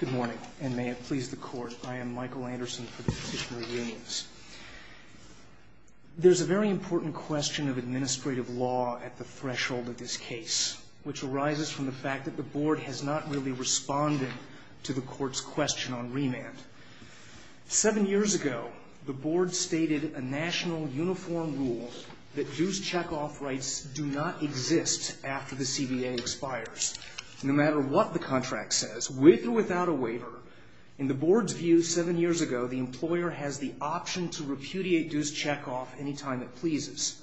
Good morning, and may it please the Court, I am Michael Anderson for the Petitioner of Unions. There's a very important question of administrative law at the threshold of this case, which arises from the fact that the Board has not really responded to the Court's question on remand. Seven years ago, the Board stated a national uniform rule that dues check-off rights do not exist after the CBA expires. No matter what the contract says, with or without a waiver, in the Board's view seven years ago, the employer has the option to repudiate dues check-off any time it pleases.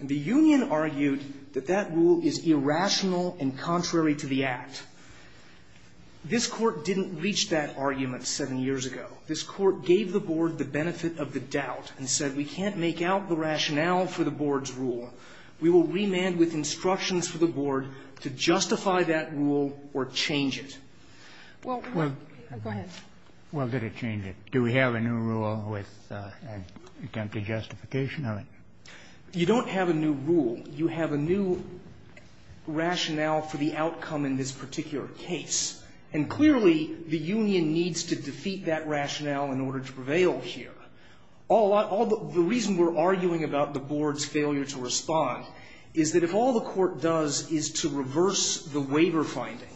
And the Union argued that that rule is irrational and contrary to the Act. This Court didn't reach that argument seven years ago. This Court gave the Board the benefit of the doubt and said we can't make out the rationale for the Board's rule. We will remand with instructions for the Board to justify that rule or change it. Well, go ahead. Well, did it change it? Do we have a new rule with an attempted justification of it? You don't have a new rule. You have a new rationale for the outcome in this particular case. And clearly, the Union needs to defeat that rationale in order to prevail here. The reason we're arguing about the Board's failure to respond is that if all the Court does is to reverse the waiver finding,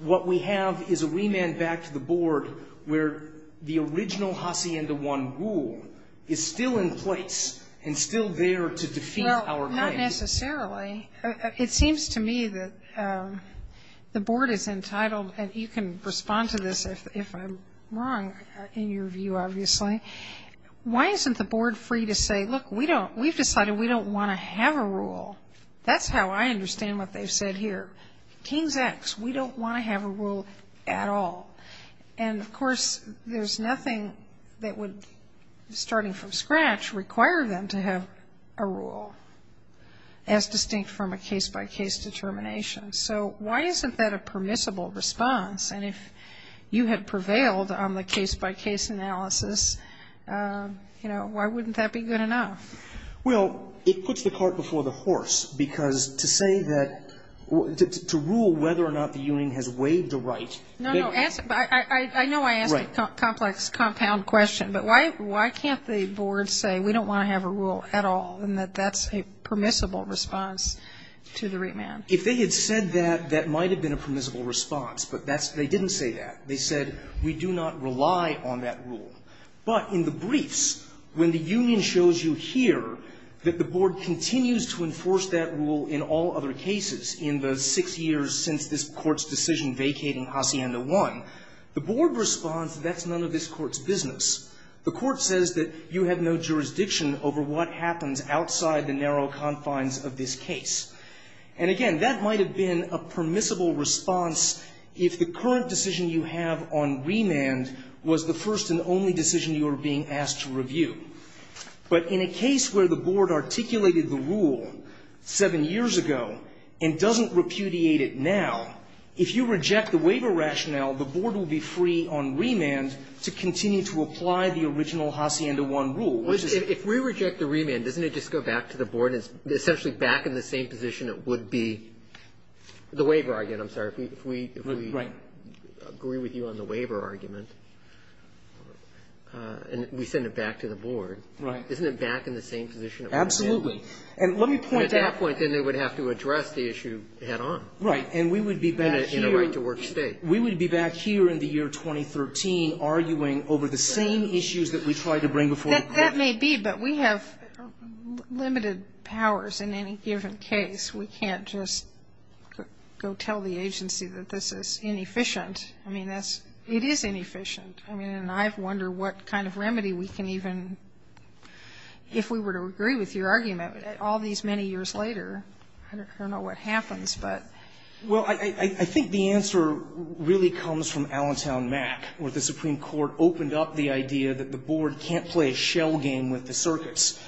what we have is a remand back to the Board where the original Hacienda I rule is still in place and still there to defeat our claim. Well, not necessarily. It seems to me that the Board is entitled, and you can respond to this if I'm wrong, in your view, obviously. Why isn't the Board free to say, look, we've decided we don't want to have a rule? That's how I understand what they've said here. Kings X, we don't want to have a rule at all. And, of course, there's nothing that would, starting from scratch, require them to have a rule, as distinct from a case-by-case determination. So why isn't that a permissible response? And if you had prevailed on the case-by-case analysis, you know, why wouldn't that be good enough? Well, it puts the cart before the horse, because to say that to rule whether or not the Union has waived a right No, no. I know I asked a complex compound question. But why can't the Board say we don't want to have a rule at all and that that's a permissible response to the remand? If they had said that, that might have been a permissible response. But that's they didn't say that. They said we do not rely on that rule. But in the briefs, when the Union shows you here that the Board continues to enforce that rule in all other cases in the six years since this Court's decision vacating Hacienda 1, the Board responds that that's none of this Court's business. The Court says that you have no jurisdiction over what happens outside the narrow confines of this case. And, again, that might have been a permissible response if the current decision you have on remand was the first and only decision you were being asked to review. But in a case where the Board articulated the rule seven years ago and doesn't repudiate it now, if you reject the waiver rationale, the Board will be free on remand to continue to apply the original Hacienda 1 rule. Roberts. If we reject the remand, doesn't it just go back to the Board? It's essentially back in the same position it would be. The waiver argument, I'm sorry. If we agree with you on the waiver argument and we send it back to the Board, isn't it back in the same position it would be? Absolutely. And let me point out at that point, then they would have to address the issue head on. Right. And we would be back here. In a right-to-work State. We would be back here in the year 2013 arguing over the same issues that we tried to bring before the Court. That may be, but we have limited powers in any given case. We can't just go tell the agency that this is inefficient. I mean, it is inefficient. I mean, and I wonder what kind of remedy we can even, if we were to agree with your argument, all these many years later. I don't know what happens, but. Well, I think the answer really comes from Allentown Mac, where the Supreme Court opened up the idea that the Board can't play a shell game with the circuits.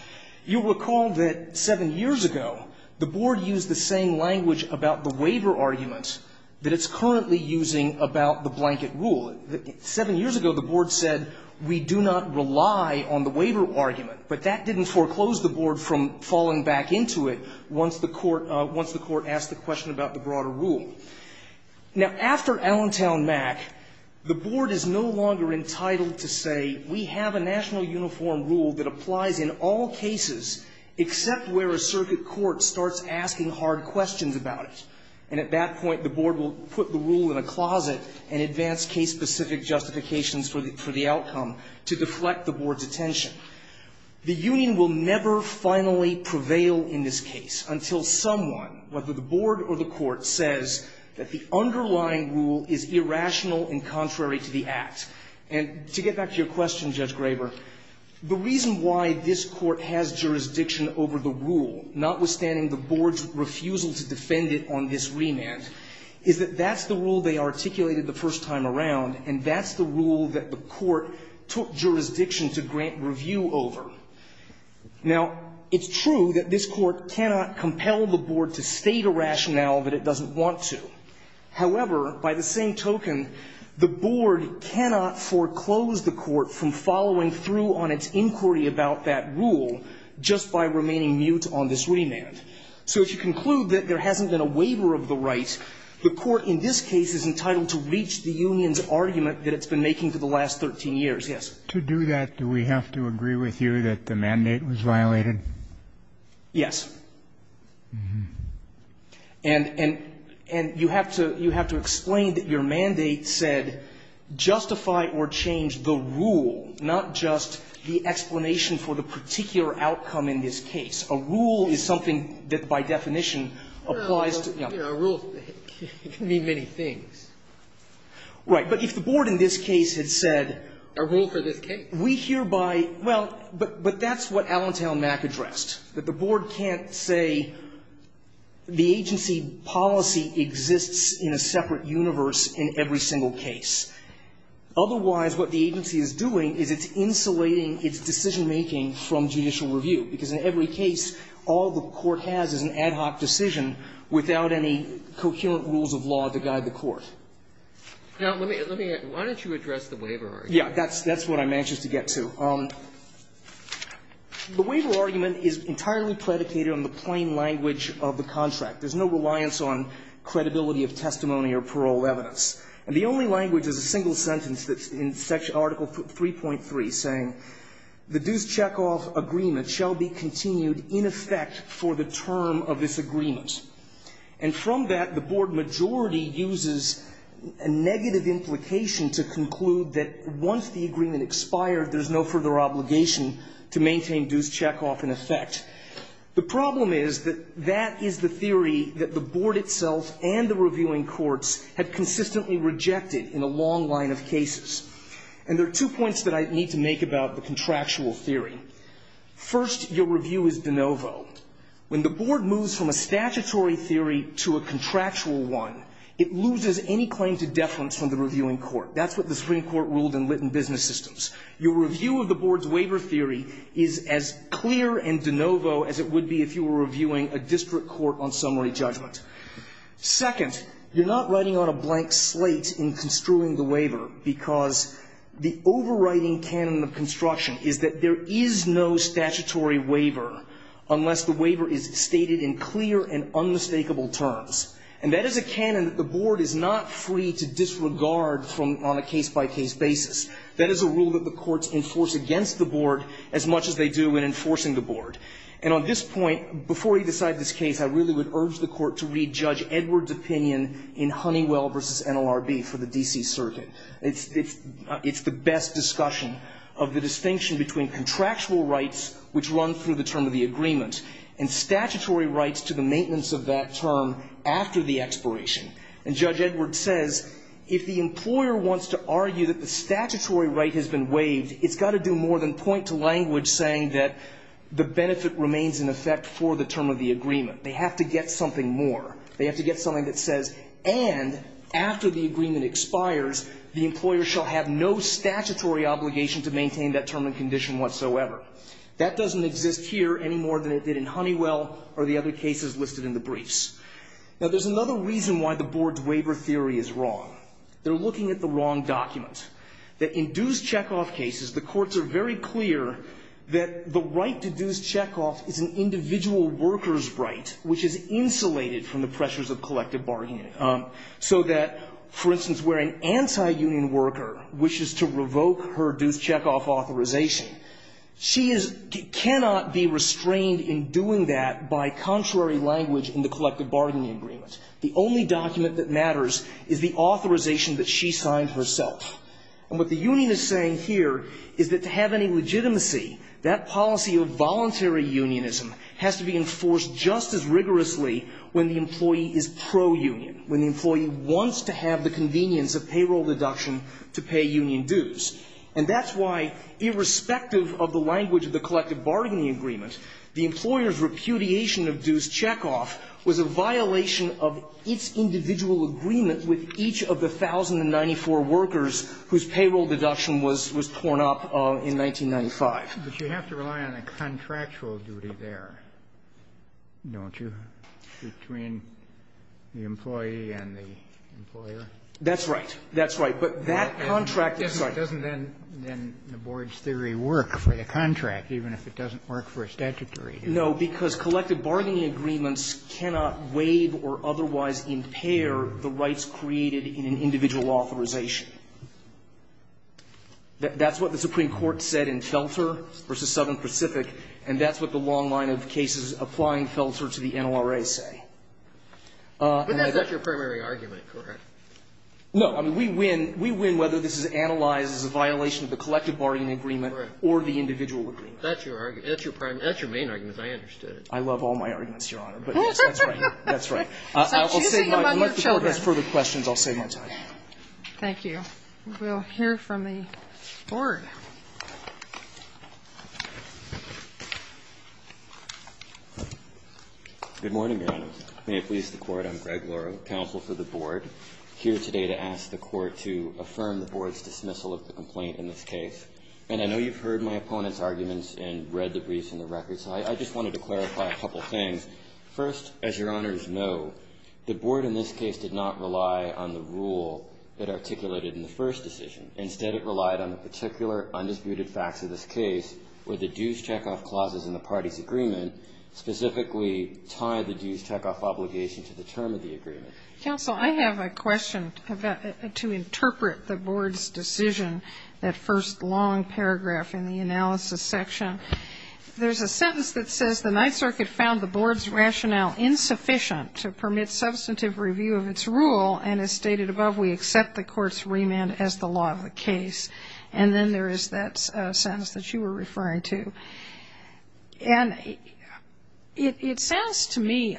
You'll recall that seven years ago, the Board used the same language about the waiver argument that it's currently using about the blanket rule. Seven years ago, the Board said, we do not rely on the waiver argument. But that didn't foreclose the Board from falling back into it once the Court asked the question about the broader rule. Now, after Allentown Mac, the Board is no longer entitled to say, we have a national uniform rule that applies in all cases except where a circuit court starts asking hard questions about it. And at that point, the Board will put the rule in a closet and advance case-specific justifications for the outcome to deflect the Board's attention. The union will never finally prevail in this case until someone, whether the Board or the Court, says that the underlying rule is irrational and contrary to the Act. And to get back to your question, Judge Graber, the reason why this Court has jurisdiction over the rule, notwithstanding the Board's refusal to defend it on this remand, is that that's the rule they articulated the first time around, and that's the rule that the Court took jurisdiction to grant review over. Now, it's true that this Court cannot compel the Board to state a rationale that it doesn't want to. However, by the same token, the Board cannot foreclose the Court from following through on its inquiry about that rule just by remaining mute on this remand. So if you conclude that there hasn't been a waiver of the right, the Court in this case is entitled to reach the union's argument that it's been making for the last 13 years. Yes. To do that, do we have to agree with you that the mandate was violated? Yes. And you have to explain that your mandate said justify or change the rule, not just the explanation for the particular outcome in this case. A rule is something that, by definition, applies to the other. A rule can mean many things. Right. But if the Board in this case had said a rule for this case, we hereby – well, but that's what Allentown Mac addressed, that the Board can't say the agency policy exists in a separate universe in every single case. Otherwise, what the agency is doing is it's insulating its decision-making from judicial review, because in every case, all the Court has is an ad hoc decision without any coherent rules of law to guide the Court. Now, let me – let me – why don't you address the waiver argument? Yeah. That's – that's what I'm anxious to get to. The waiver argument is entirely predicated on the plain language of the contract. There's no reliance on credibility of testimony or parole evidence. And the only language is a single sentence that's in Article 3.3 saying, The dues checkoff agreement shall be continued in effect for the term of this agreement. And from that, the Board majority uses a negative implication to conclude that once the agreement expired, there's no further obligation to maintain dues checkoff in effect. The problem is that that is the theory that the Board itself and the reviewing courts had consistently rejected in a long line of cases. And there are two points that I need to make about the contractual theory. First, your review is de novo. When the Board moves from a statutory theory to a contractual one, it loses any claim to deference from the reviewing court. That's what the Supreme Court ruled in Litton Business Systems. Your review of the Board's waiver theory is as clear and de novo as it would be if you were reviewing a district court on summary judgment. Second, you're not writing on a blank slate in construing the waiver because the overriding canon of construction is that there is no statutory waiver unless the waiver is stated in clear and unmistakable terms. And that is a canon that the Board is not free to disregard on a case-by-case basis. That is a rule that the courts enforce against the Board as much as they do in enforcing the Board. And on this point, before you decide this case, I really would urge the Court to re-judge Edward's opinion in Honeywell v. NLRB for the D.C. Circuit. It's the best discussion of the distinction between contractual rights, which run through the term of the agreement, and statutory rights to the maintenance of that term after the expiration. And Judge Edward says, if the employer wants to argue that the statutory right has been waived, it's got to do more than point to language saying that the benefit remains in effect for the term of the agreement. They have to get something more. They have to get something that says, and after the agreement expires, the employer shall have no statutory obligation to maintain that term and condition whatsoever. That doesn't exist here any more than it did in Honeywell or the other cases listed in the briefs. Now, there's another reason why the Board's waiver theory is wrong. They're looking at the wrong document. That in dues checkoff cases, the courts are very clear that the right to dues checkoff is an individual worker's right, which is insulated from the pressures of collective bargaining. So that, for instance, where an anti-union worker wishes to revoke her dues checkoff authorization, she cannot be restrained in doing that by contrary language in the collective bargaining agreement. The only document that matters is the authorization that she signed herself. And what the union is saying here is that to have any legitimacy, that policy of voluntary unionism has to be enforced just as rigorously when the employee is pro-union, when the employee wants to have the convenience of payroll deduction to pay union dues. And that's why, irrespective of the language of the collective bargaining agreement, the employer's repudiation of dues checkoff was a violation of its individual agreement with each of the 1,094 workers whose payroll deduction was torn up in 1995. But you have to rely on a contractual duty there, don't you, between the employee and the employer? That's right. That's right. But that contract is right. And it doesn't then, in the board's theory, work for the contract, even if it doesn't work for a statutory duty. No, because collective bargaining agreements cannot waive or otherwise impair the rights created in an individual authorization. That's what the Supreme Court said in Felter v. Southern Pacific, and that's what the long line of cases applying Felter to the NORA say. But that's not your primary argument, correct? No. I mean, we win whether this is analyzed as a violation of the collective bargaining agreement or the individual agreement. That's your argument. That's your primary argument. That's your main argument, as I understood it. I love all my arguments, Your Honor. But that's right. That's right. I will save my time. Unless the board has further questions, I'll save my time. Thank you. We'll hear from the board. Good morning, Your Honor. May it please the Court. I'm Greg Loro, counsel for the board. I'm here today to ask the Court to affirm the board's dismissal of the complaint in this case. And I know you've heard my opponent's arguments and read the briefs and the records, so I just wanted to clarify a couple things. First, as Your Honors know, the board in this case did not rely on the rule it articulated in the first decision. Instead, it relied on the particular undisputed facts of this case where the dues checkoff clauses in the party's agreement specifically tie the dues checkoff obligation to the term of the agreement. Counsel, I have a question to interpret the board's decision, that first long paragraph in the analysis section. There's a sentence that says the Ninth Circuit found the board's rationale insufficient to permit substantive review of its rule, and as stated above, we accept the court's remand as the law of the case. And then there is that sentence that you were referring to. And it sounds to me,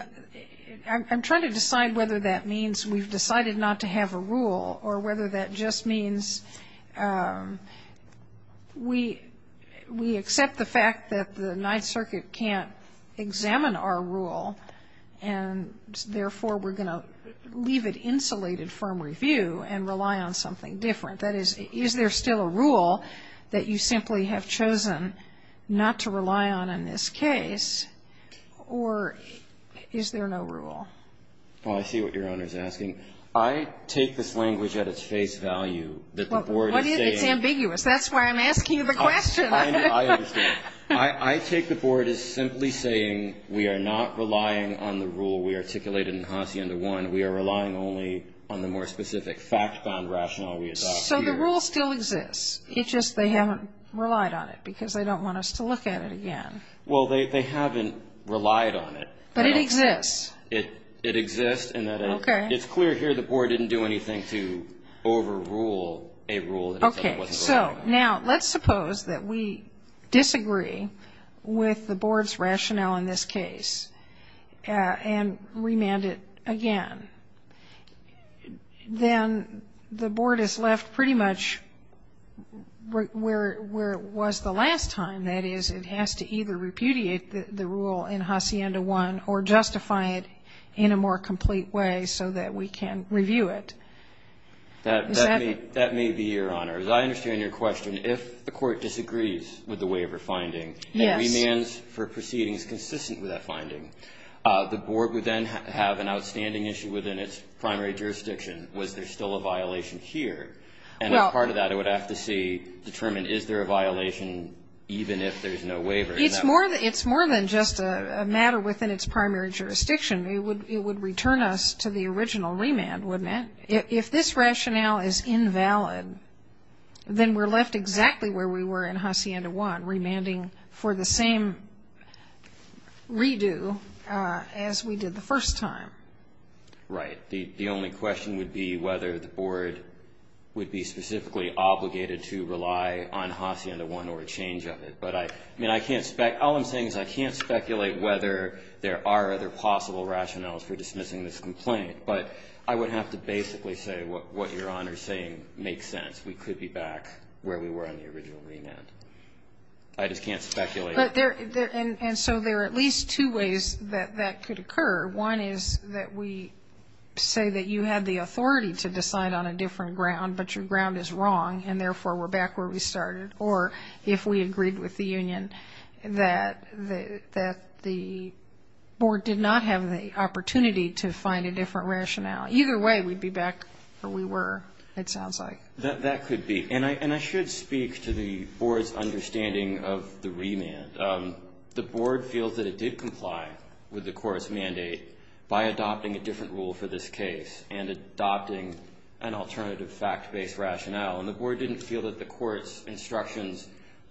I'm trying to decide whether that means we've decided not to have a rule or whether that just means we accept the fact that the Ninth Circuit can't examine our rule and, therefore, we're going to leave it insulated from review and rely on something different. That is, is there still a rule that you simply have chosen not to rely on in this case, or is there no rule? Well, I see what Your Honor is asking. I take this language at its face value that the board is saying What if it's ambiguous? That's why I'm asking you the question. I understand. I take the board as simply saying we are not relying on the rule we articulated in Hacienda 1. We are relying only on the more specific fact-bound rationale we adopted. So the rule still exists. It's just they haven't relied on it because they don't want us to look at it again. Well, they haven't relied on it. But it exists. It exists. And it's clear here the board didn't do anything to overrule a rule. Okay. So now let's suppose that we disagree with the board's rationale in this case and remand it again. Then the board is left pretty much where it was the last time. That is, it has to either repudiate the rule in Hacienda 1 or justify it in a more complete way so that we can review it. Is that correct? That may be, Your Honor. As I understand your question, if the court disagrees with the waiver finding and remands for proceedings consistent with that finding, the board would then have an outstanding issue within its primary jurisdiction. Was there still a violation here? And as part of that, it would have to see, determine, is there a violation even if there's no waiver? It's more than just a matter within its primary jurisdiction. It would return us to the original remand, wouldn't it? If this rationale is invalid, then we're left exactly where we were in Hacienda 1, remanding for the same redo as we did the first time. Right. The only question would be whether the board would be specifically obligated to rely on Hacienda 1 or a change of it. But I mean, all I'm saying is I can't speculate whether there are other possible rationales for dismissing this complaint. But I would have to basically say what Your Honor is saying makes sense. We could be back where we were on the original remand. I just can't speculate. And so there are at least two ways that that could occur. One is that we say that you had the authority to decide on a different ground, but your ground is wrong, and therefore, we're back where we started. Or if we agreed with the union that the board did not have the opportunity to find a different rationale. Either way, we'd be back where we were, it sounds like. That could be. And I should speak to the board's understanding of the remand. The board feels that it did comply with the court's mandate by adopting a different rule for this case and adopting an alternative fact-based rationale. And the board didn't feel that the court's instructions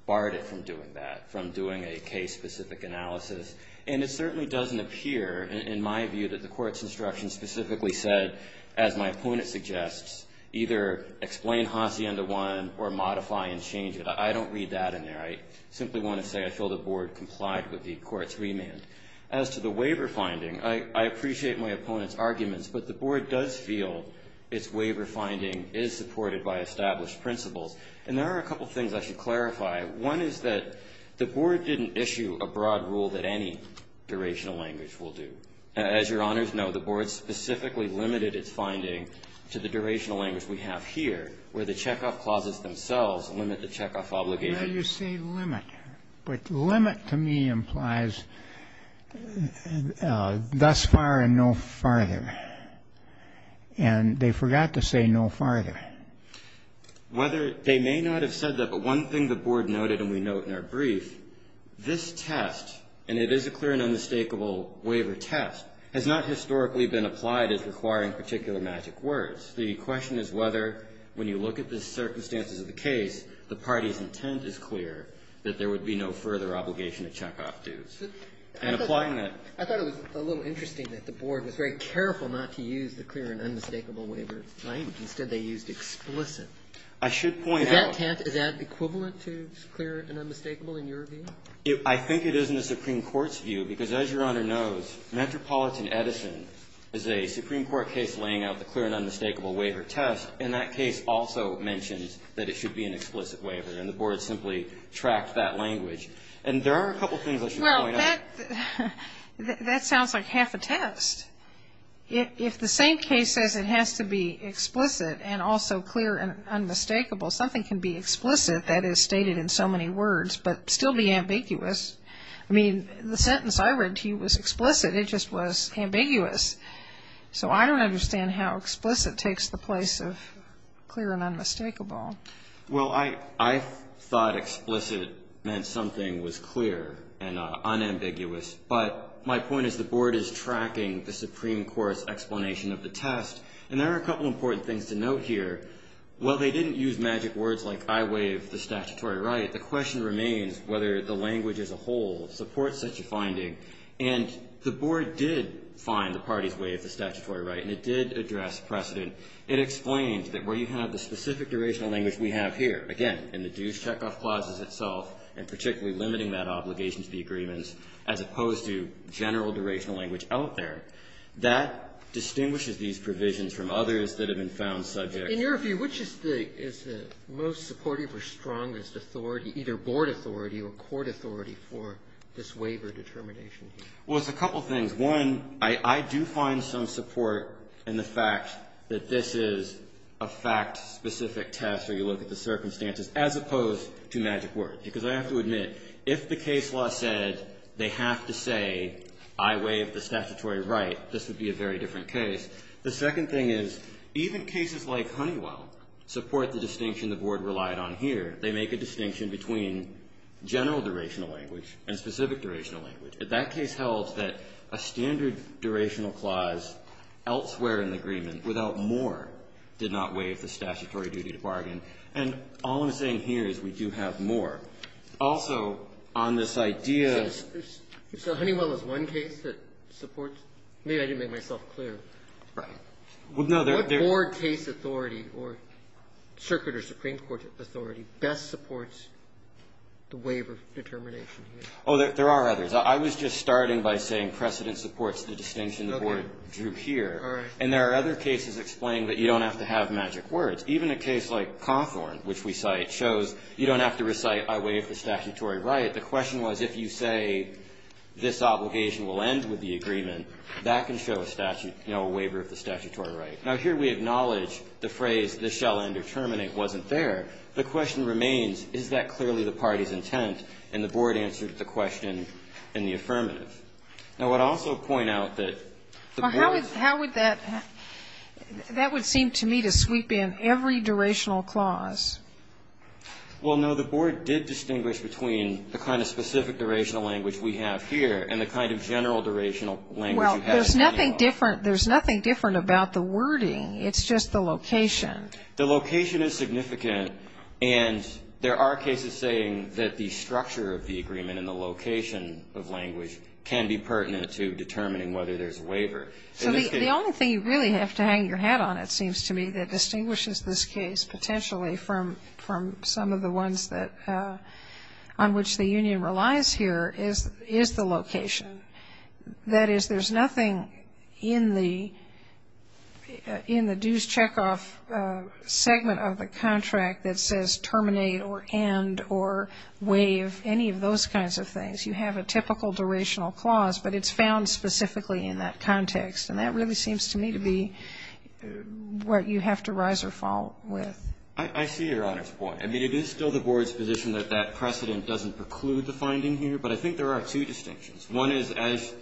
barred it from doing that, from doing a case-specific analysis. And it certainly doesn't appear, in my view, that the court's instructions specifically said, as my opponent suggests, either explain Hacienda 1 or modify and change it. I don't read that in there. I simply want to say I feel the board complied with the court's remand. As to the waiver finding, I appreciate my opponent's arguments, but the board does feel its waiver finding is supported by established principles. And there are a couple things I should clarify. One is that the board didn't issue a broad rule that any durational language will do. As your honors know, the board specifically limited its finding to the durational language we have here, where the checkoff clauses themselves limit the checkoff obligation. Well, you say limit. But limit to me implies thus far and no farther. And they forgot to say no farther. They may not have said that, but one thing the board noted and we note in our brief, this test, and it is a clear and unmistakable waiver test, has not historically been applied as requiring particular magic words. The question is whether, when you look at the circumstances of the case, the party's intent is clear that there would be no further obligation to check off dues. And applying that ---- I thought it was a little interesting that the board was very careful not to use the clear and unmistakable waiver tent. Instead, they used explicit. I should point out ---- Is that equivalent to clear and unmistakable in your view? I think it is in the Supreme Court's view. Because as your honor knows, Metropolitan Edison is a Supreme Court case laying out the clear and unmistakable waiver test, and that case also mentions that it should be an explicit waiver. And the board simply tracked that language. And there are a couple things I should point out. That sounds like half a test. If the same case says it has to be explicit and also clear and unmistakable, something can be explicit, that is stated in so many words, but still be ambiguous. I mean, the sentence I read to you was explicit. It just was ambiguous. So I don't understand how explicit takes the place of clear and unmistakable. Well, I thought explicit meant something was clear and unambiguous. But my point is the board is tracking the Supreme Court's explanation of the test. And there are a couple important things to note here. While they didn't use magic words like I waive the statutory right, the question remains whether the language as a whole supports such a finding. And the board did find the parties waive the statutory right. And it did address precedent. It explained that where you have the specific durational language we have here, again, in the dues checkoff clauses itself, and particularly limiting that obligation to the agreements, as opposed to general durational language out there, that distinguishes these provisions from others that have been found subject. In your view, which is the most supportive or strongest authority, either board authority or court authority, for this waiver determination? Well, it's a couple things. One, I do find some support in the fact that this is a fact-specific test, where you look at the circumstances, as opposed to magic words. Because I have to admit, if the case law said they have to say, I waive the statutory right, this would be a very different case. The second thing is, even cases like Honeywell support the distinction the board relied on here. They make a distinction between general durational language and specific durational language. If that case held that a standard durational clause elsewhere in the agreement without more did not waive the statutory duty to bargain, and all I'm saying here is we do have more. Also, on this idea of the ---- So Honeywell is one case that supports? Maybe I didn't make myself clear. Right. What board case authority or circuit or Supreme Court authority best supports the waiver determination here? Oh, there are others. I was just starting by saying precedent supports the distinction the board drew here. All right. And there are other cases explaining that you don't have to have magic words. Even a case like Cawthorn, which we cite, shows you don't have to recite, I waive the statutory right. The question was, if you say this obligation will end with the agreement, that can show a statute. You know, a waiver of the statutory right. Now, here we acknowledge the phrase, this shall end or terminate, wasn't there. The question remains, is that clearly the party's intent? And the board answered the question in the affirmative. Now, I would also point out that the board's ---- Well, how would that ---- that would seem to me to sweep in every durational clause. Well, no, the board did distinguish between the kind of specific durational language we have here and the kind of general durational language you have in Honeywell. There's nothing different about the wording. It's just the location. The location is significant, and there are cases saying that the structure of the agreement and the location of language can be pertinent to determining whether there's a waiver. So the only thing you really have to hang your hat on, it seems to me, that distinguishes this case potentially from some of the ones that ---- on which the union relies here is the location. That is, there's nothing in the dues checkoff segment of the contract that says terminate or end or waive, any of those kinds of things. You have a typical durational clause, but it's found specifically in that context. And that really seems to me to be what you have to rise or fall with. I see Your Honor's point. I mean, it is still the board's position that that precedent doesn't preclude the finding here. But I think there are two distinctions. One is, as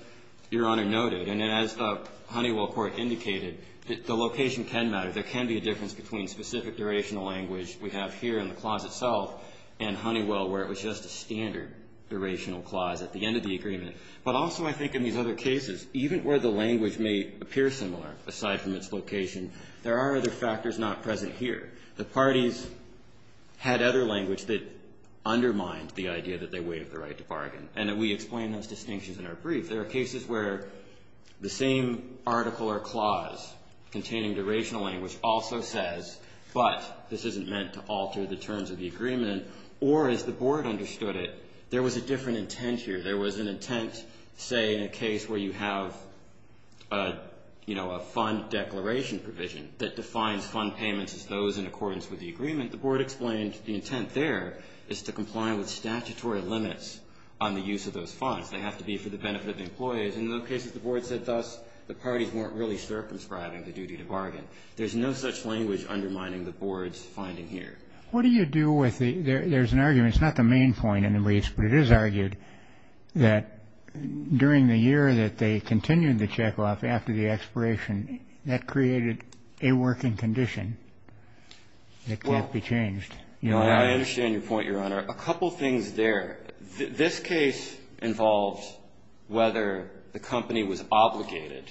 Your Honor noted, and as the Honeywell Court indicated, the location can matter. There can be a difference between specific durational language we have here in the clause itself and Honeywell, where it was just a standard durational clause at the end of the agreement. But also I think in these other cases, even where the language may appear similar aside from its location, there are other factors not present here. The parties had other language that undermined the idea that they waived the right to bargain. And that we explain those distinctions in our brief. There are cases where the same article or clause containing durational language also says, but this isn't meant to alter the terms of the agreement. Or as the board understood it, there was a different intent here. There was an intent, say, in a case where you have, you know, a fund declaration provision that defines fund payments as those in accordance with the agreement. The board explained the intent there is to comply with statutory limits on the use of those funds. They have to be for the benefit of the employees. In those cases, the board said thus, the parties weren't really circumscribing the duty to bargain. There's no such language undermining the board's finding here. What do you do with the, there's an argument, it's not the main point in the briefs, but it is argued that during the year that they continued the check-off after the expiration, that created a working condition. It can't be changed. Now I understand your point, Your Honor. A couple things there. This case involves whether the company was obligated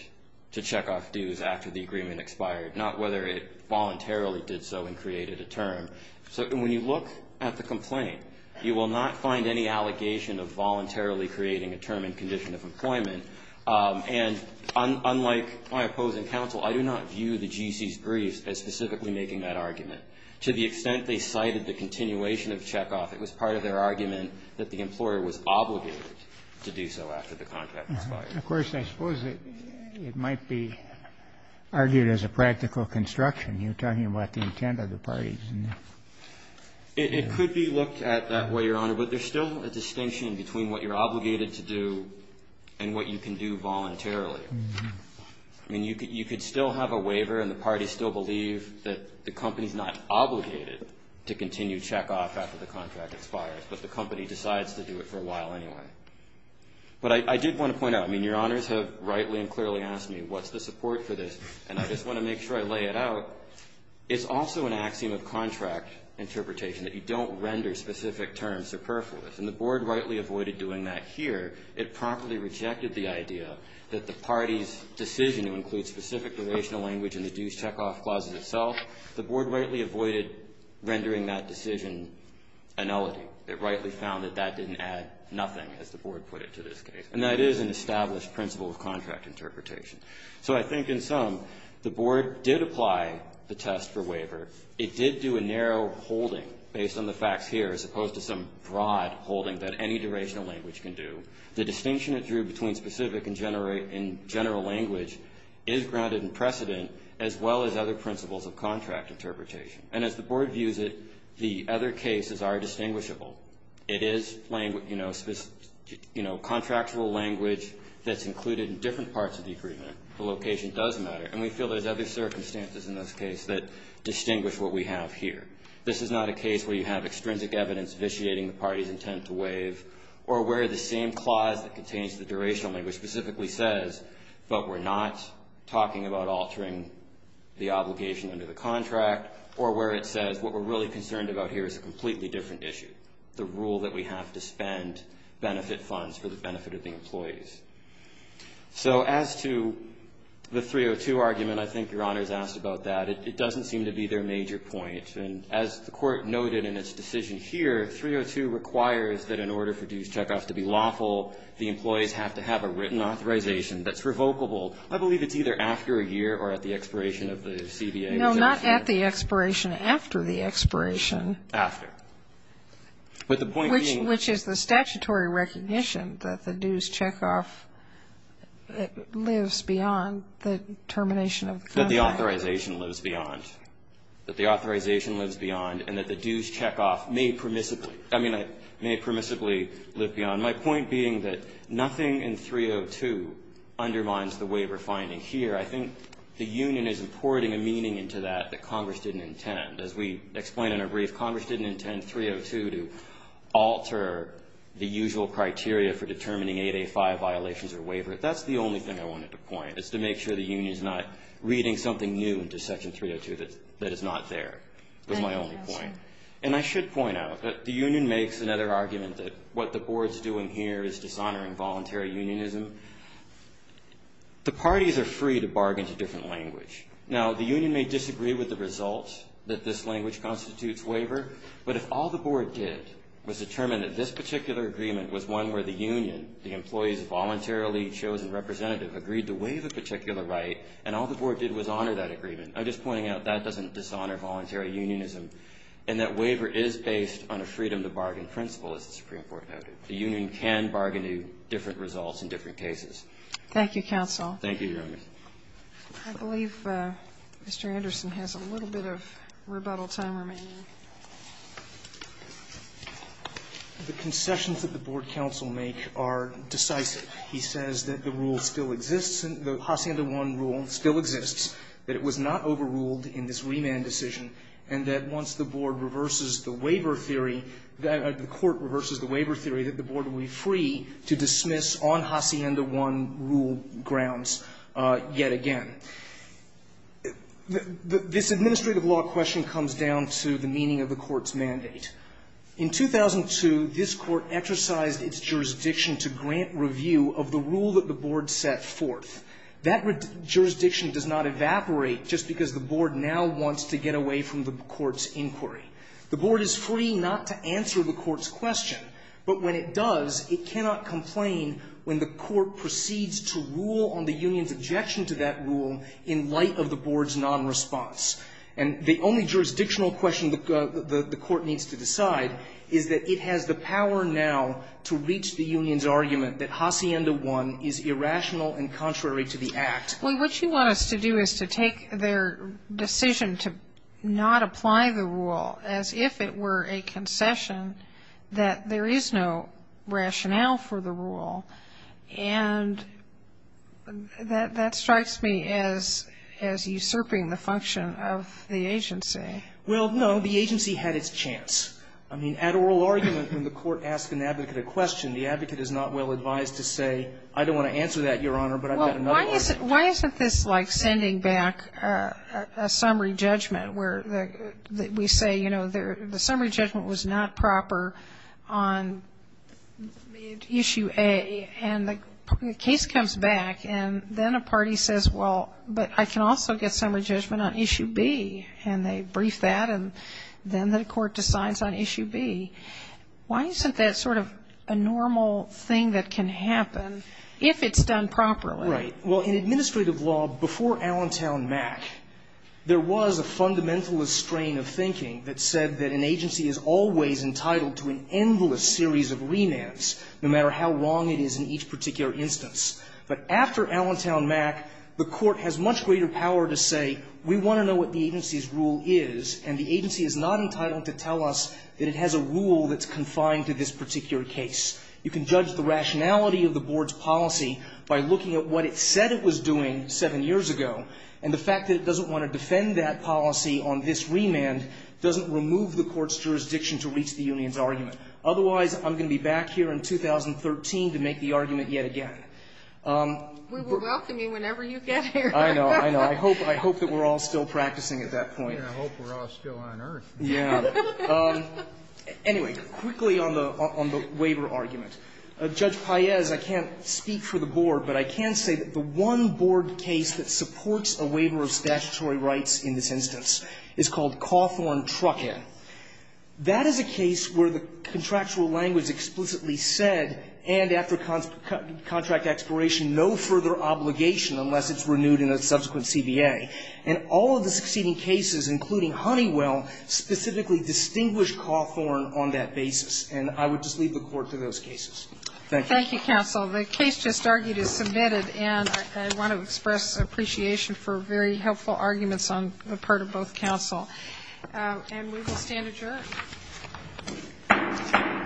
to check off dues after the agreement expired, not whether it voluntarily did so and created a term. So when you look at the complaint, you will not find any allegation of voluntarily creating a term and condition of employment. And unlike my opposing counsel, I do not view the GC's briefs as specifically making that argument. To the extent they cited the continuation of check-off, it was part of their argument that the employer was obligated to do so after the contract expired. Of course, I suppose it might be argued as a practical construction. You're talking about the intent of the parties. It could be looked at that way, Your Honor, but there's still a distinction between what you're obligated to do and what you can do voluntarily. I mean, you could still have a waiver and the parties still believe that the company's not obligated to continue check-off after the contract expires, but the company decides to do it for a while anyway. But I did want to point out, I mean, Your Honors have rightly and clearly asked me, what's the support for this? And I just want to make sure I lay it out. It's also an axiom of contract interpretation that you don't render specific terms superfluous. And the Board rightly avoided doing that here. It promptly rejected the idea that the party's decision to include specific relational language in the dues check-off clauses itself, the Board rightly avoided rendering that decision annullity. It rightly found that that didn't add nothing, as the Board put it, to this case. And that is an established principle of contract interpretation. So I think in sum, the Board did apply the test for waiver. It did do a narrow holding, based on the facts here, as opposed to some broad holding that any durational language can do. The distinction it drew between specific and general language is grounded in precedent as well as other principles of contract interpretation. And as the Board views it, the other cases are distinguishable. It is, you know, contractual language that's included in different parts of the agreement. The location does matter. And we feel there's other circumstances in this case that distinguish what we have here. This is not a case where you have extrinsic evidence vitiating the party's intent to waive, or where the same clause that contains the durational language specifically says, but we're not talking about altering the obligation under the contract, or where it says, what we're really concerned about here is a completely different issue, the rule that we have to spend benefit funds for the benefit of the employees. So as to the 302 argument, I think Your Honor's asked about that. It doesn't seem to be their major point. And as the Court noted in its decision here, 302 requires that in order for dues checkoff to be lawful, the employees have to have a written authorization that's revocable. I believe it's either after a year or at the expiration of the CBA's action. No, not at the expiration, after the expiration. After. But the point being Which is the statutory recognition that the dues checkoff lives beyond the termination of the contract. That the authorization lives beyond. That the authorization lives beyond and that the dues checkoff may permissibly, I mean, may permissibly live beyond. My point being that nothing in 302 undermines the waiver finding here. I think the union is importing a meaning into that that Congress didn't intend. As we explain in a brief, Congress didn't intend 302 to alter the usual criteria for violations or waiver. That's the only thing I wanted to point, is to make sure the union's not reading something new into Section 302 that is not there. That's my only point. And I should point out that the union makes another argument that what the board's doing here is dishonoring voluntary unionism. The parties are free to bargain to different language. Now, the union may disagree with the results that this language constitutes waiver, but if all the board did was determine that this particular agreement was one where the union, the employee's voluntarily chosen representative, agreed to waive a particular right, and all the board did was honor that agreement, I'm just pointing out that doesn't dishonor voluntary unionism. And that waiver is based on a freedom to bargain principle, as the Supreme Court noted. The union can bargain to different results in different cases. Thank you, counsel. Thank you, Your Honor. I believe Mr. Anderson has a little bit of rebuttal time remaining. The concessions that the board counsel make are decisive. He says that the rule still exists, the Hacienda I rule still exists, that it was not overruled in this remand decision, and that once the board reverses the waiver theory, the court reverses the waiver theory, that the board will be free to dismiss on Hacienda I rule grounds yet again. This administrative law question comes down to the meaning of the court's mandate. In 2002, this court exercised its jurisdiction to grant review of the rule that the board set forth. That jurisdiction does not evaporate just because the board now wants to get away from the court's inquiry. The board is free not to answer the court's question, but when it does, it cannot complain when the court proceeds to rule on the union's objection to that rule in light of the board's nonresponse. And the only jurisdictional question the court needs to decide is that it has the power now to reach the union's argument that Hacienda I is irrational and contrary to the act. Well, what you want us to do is to take their decision to not apply the rule as if it were a concession, that there is no rationale for the rule. And that strikes me as usurping the function of the agency. Well, no. The agency had its chance. I mean, at oral argument, when the court asks an advocate a question, the advocate is not well advised to say, I don't want to answer that, Your Honor, but I've got another argument. Why isn't this like sending back a summary judgment where we say, you know, the summary judgment was not proper on issue A, and the case comes back, and then a party says, well, but I can also get summary judgment on issue B, and they brief that, and then the court decides on issue B. Why isn't that sort of a normal thing that can happen if it's done properly? Right. Well, in administrative law, before Allentown Mac, there was a fundamentalist that is always entitled to an endless series of remands, no matter how wrong it is in each particular instance. But after Allentown Mac, the court has much greater power to say, we want to know what the agency's rule is, and the agency is not entitled to tell us that it has a rule that's confined to this particular case. You can judge the rationality of the board's policy by looking at what it said it was doing seven years ago. And the fact that it doesn't want to defend that policy on this remand doesn't remove the court's jurisdiction to reach the union's argument. Otherwise, I'm going to be back here in 2013 to make the argument yet again. We will welcome you whenever you get here. I know. I know. I hope that we're all still practicing at that point. I hope we're all still on earth. Yeah. Anyway, quickly on the waiver argument. Judge Paez, I can't speak for the board, but I can say that the one board case that is a case where the contractual language explicitly said, and after contract expiration, no further obligation unless it's renewed in a subsequent CBA, and all of the succeeding cases, including Honeywell, specifically distinguished Cawthorn on that basis. And I would just leave the Court to those cases. Thank you. Thank you, counsel. The case just argued is submitted, and I want to express appreciation for very helpful arguments on the part of both counsel. And we will stand adjourned.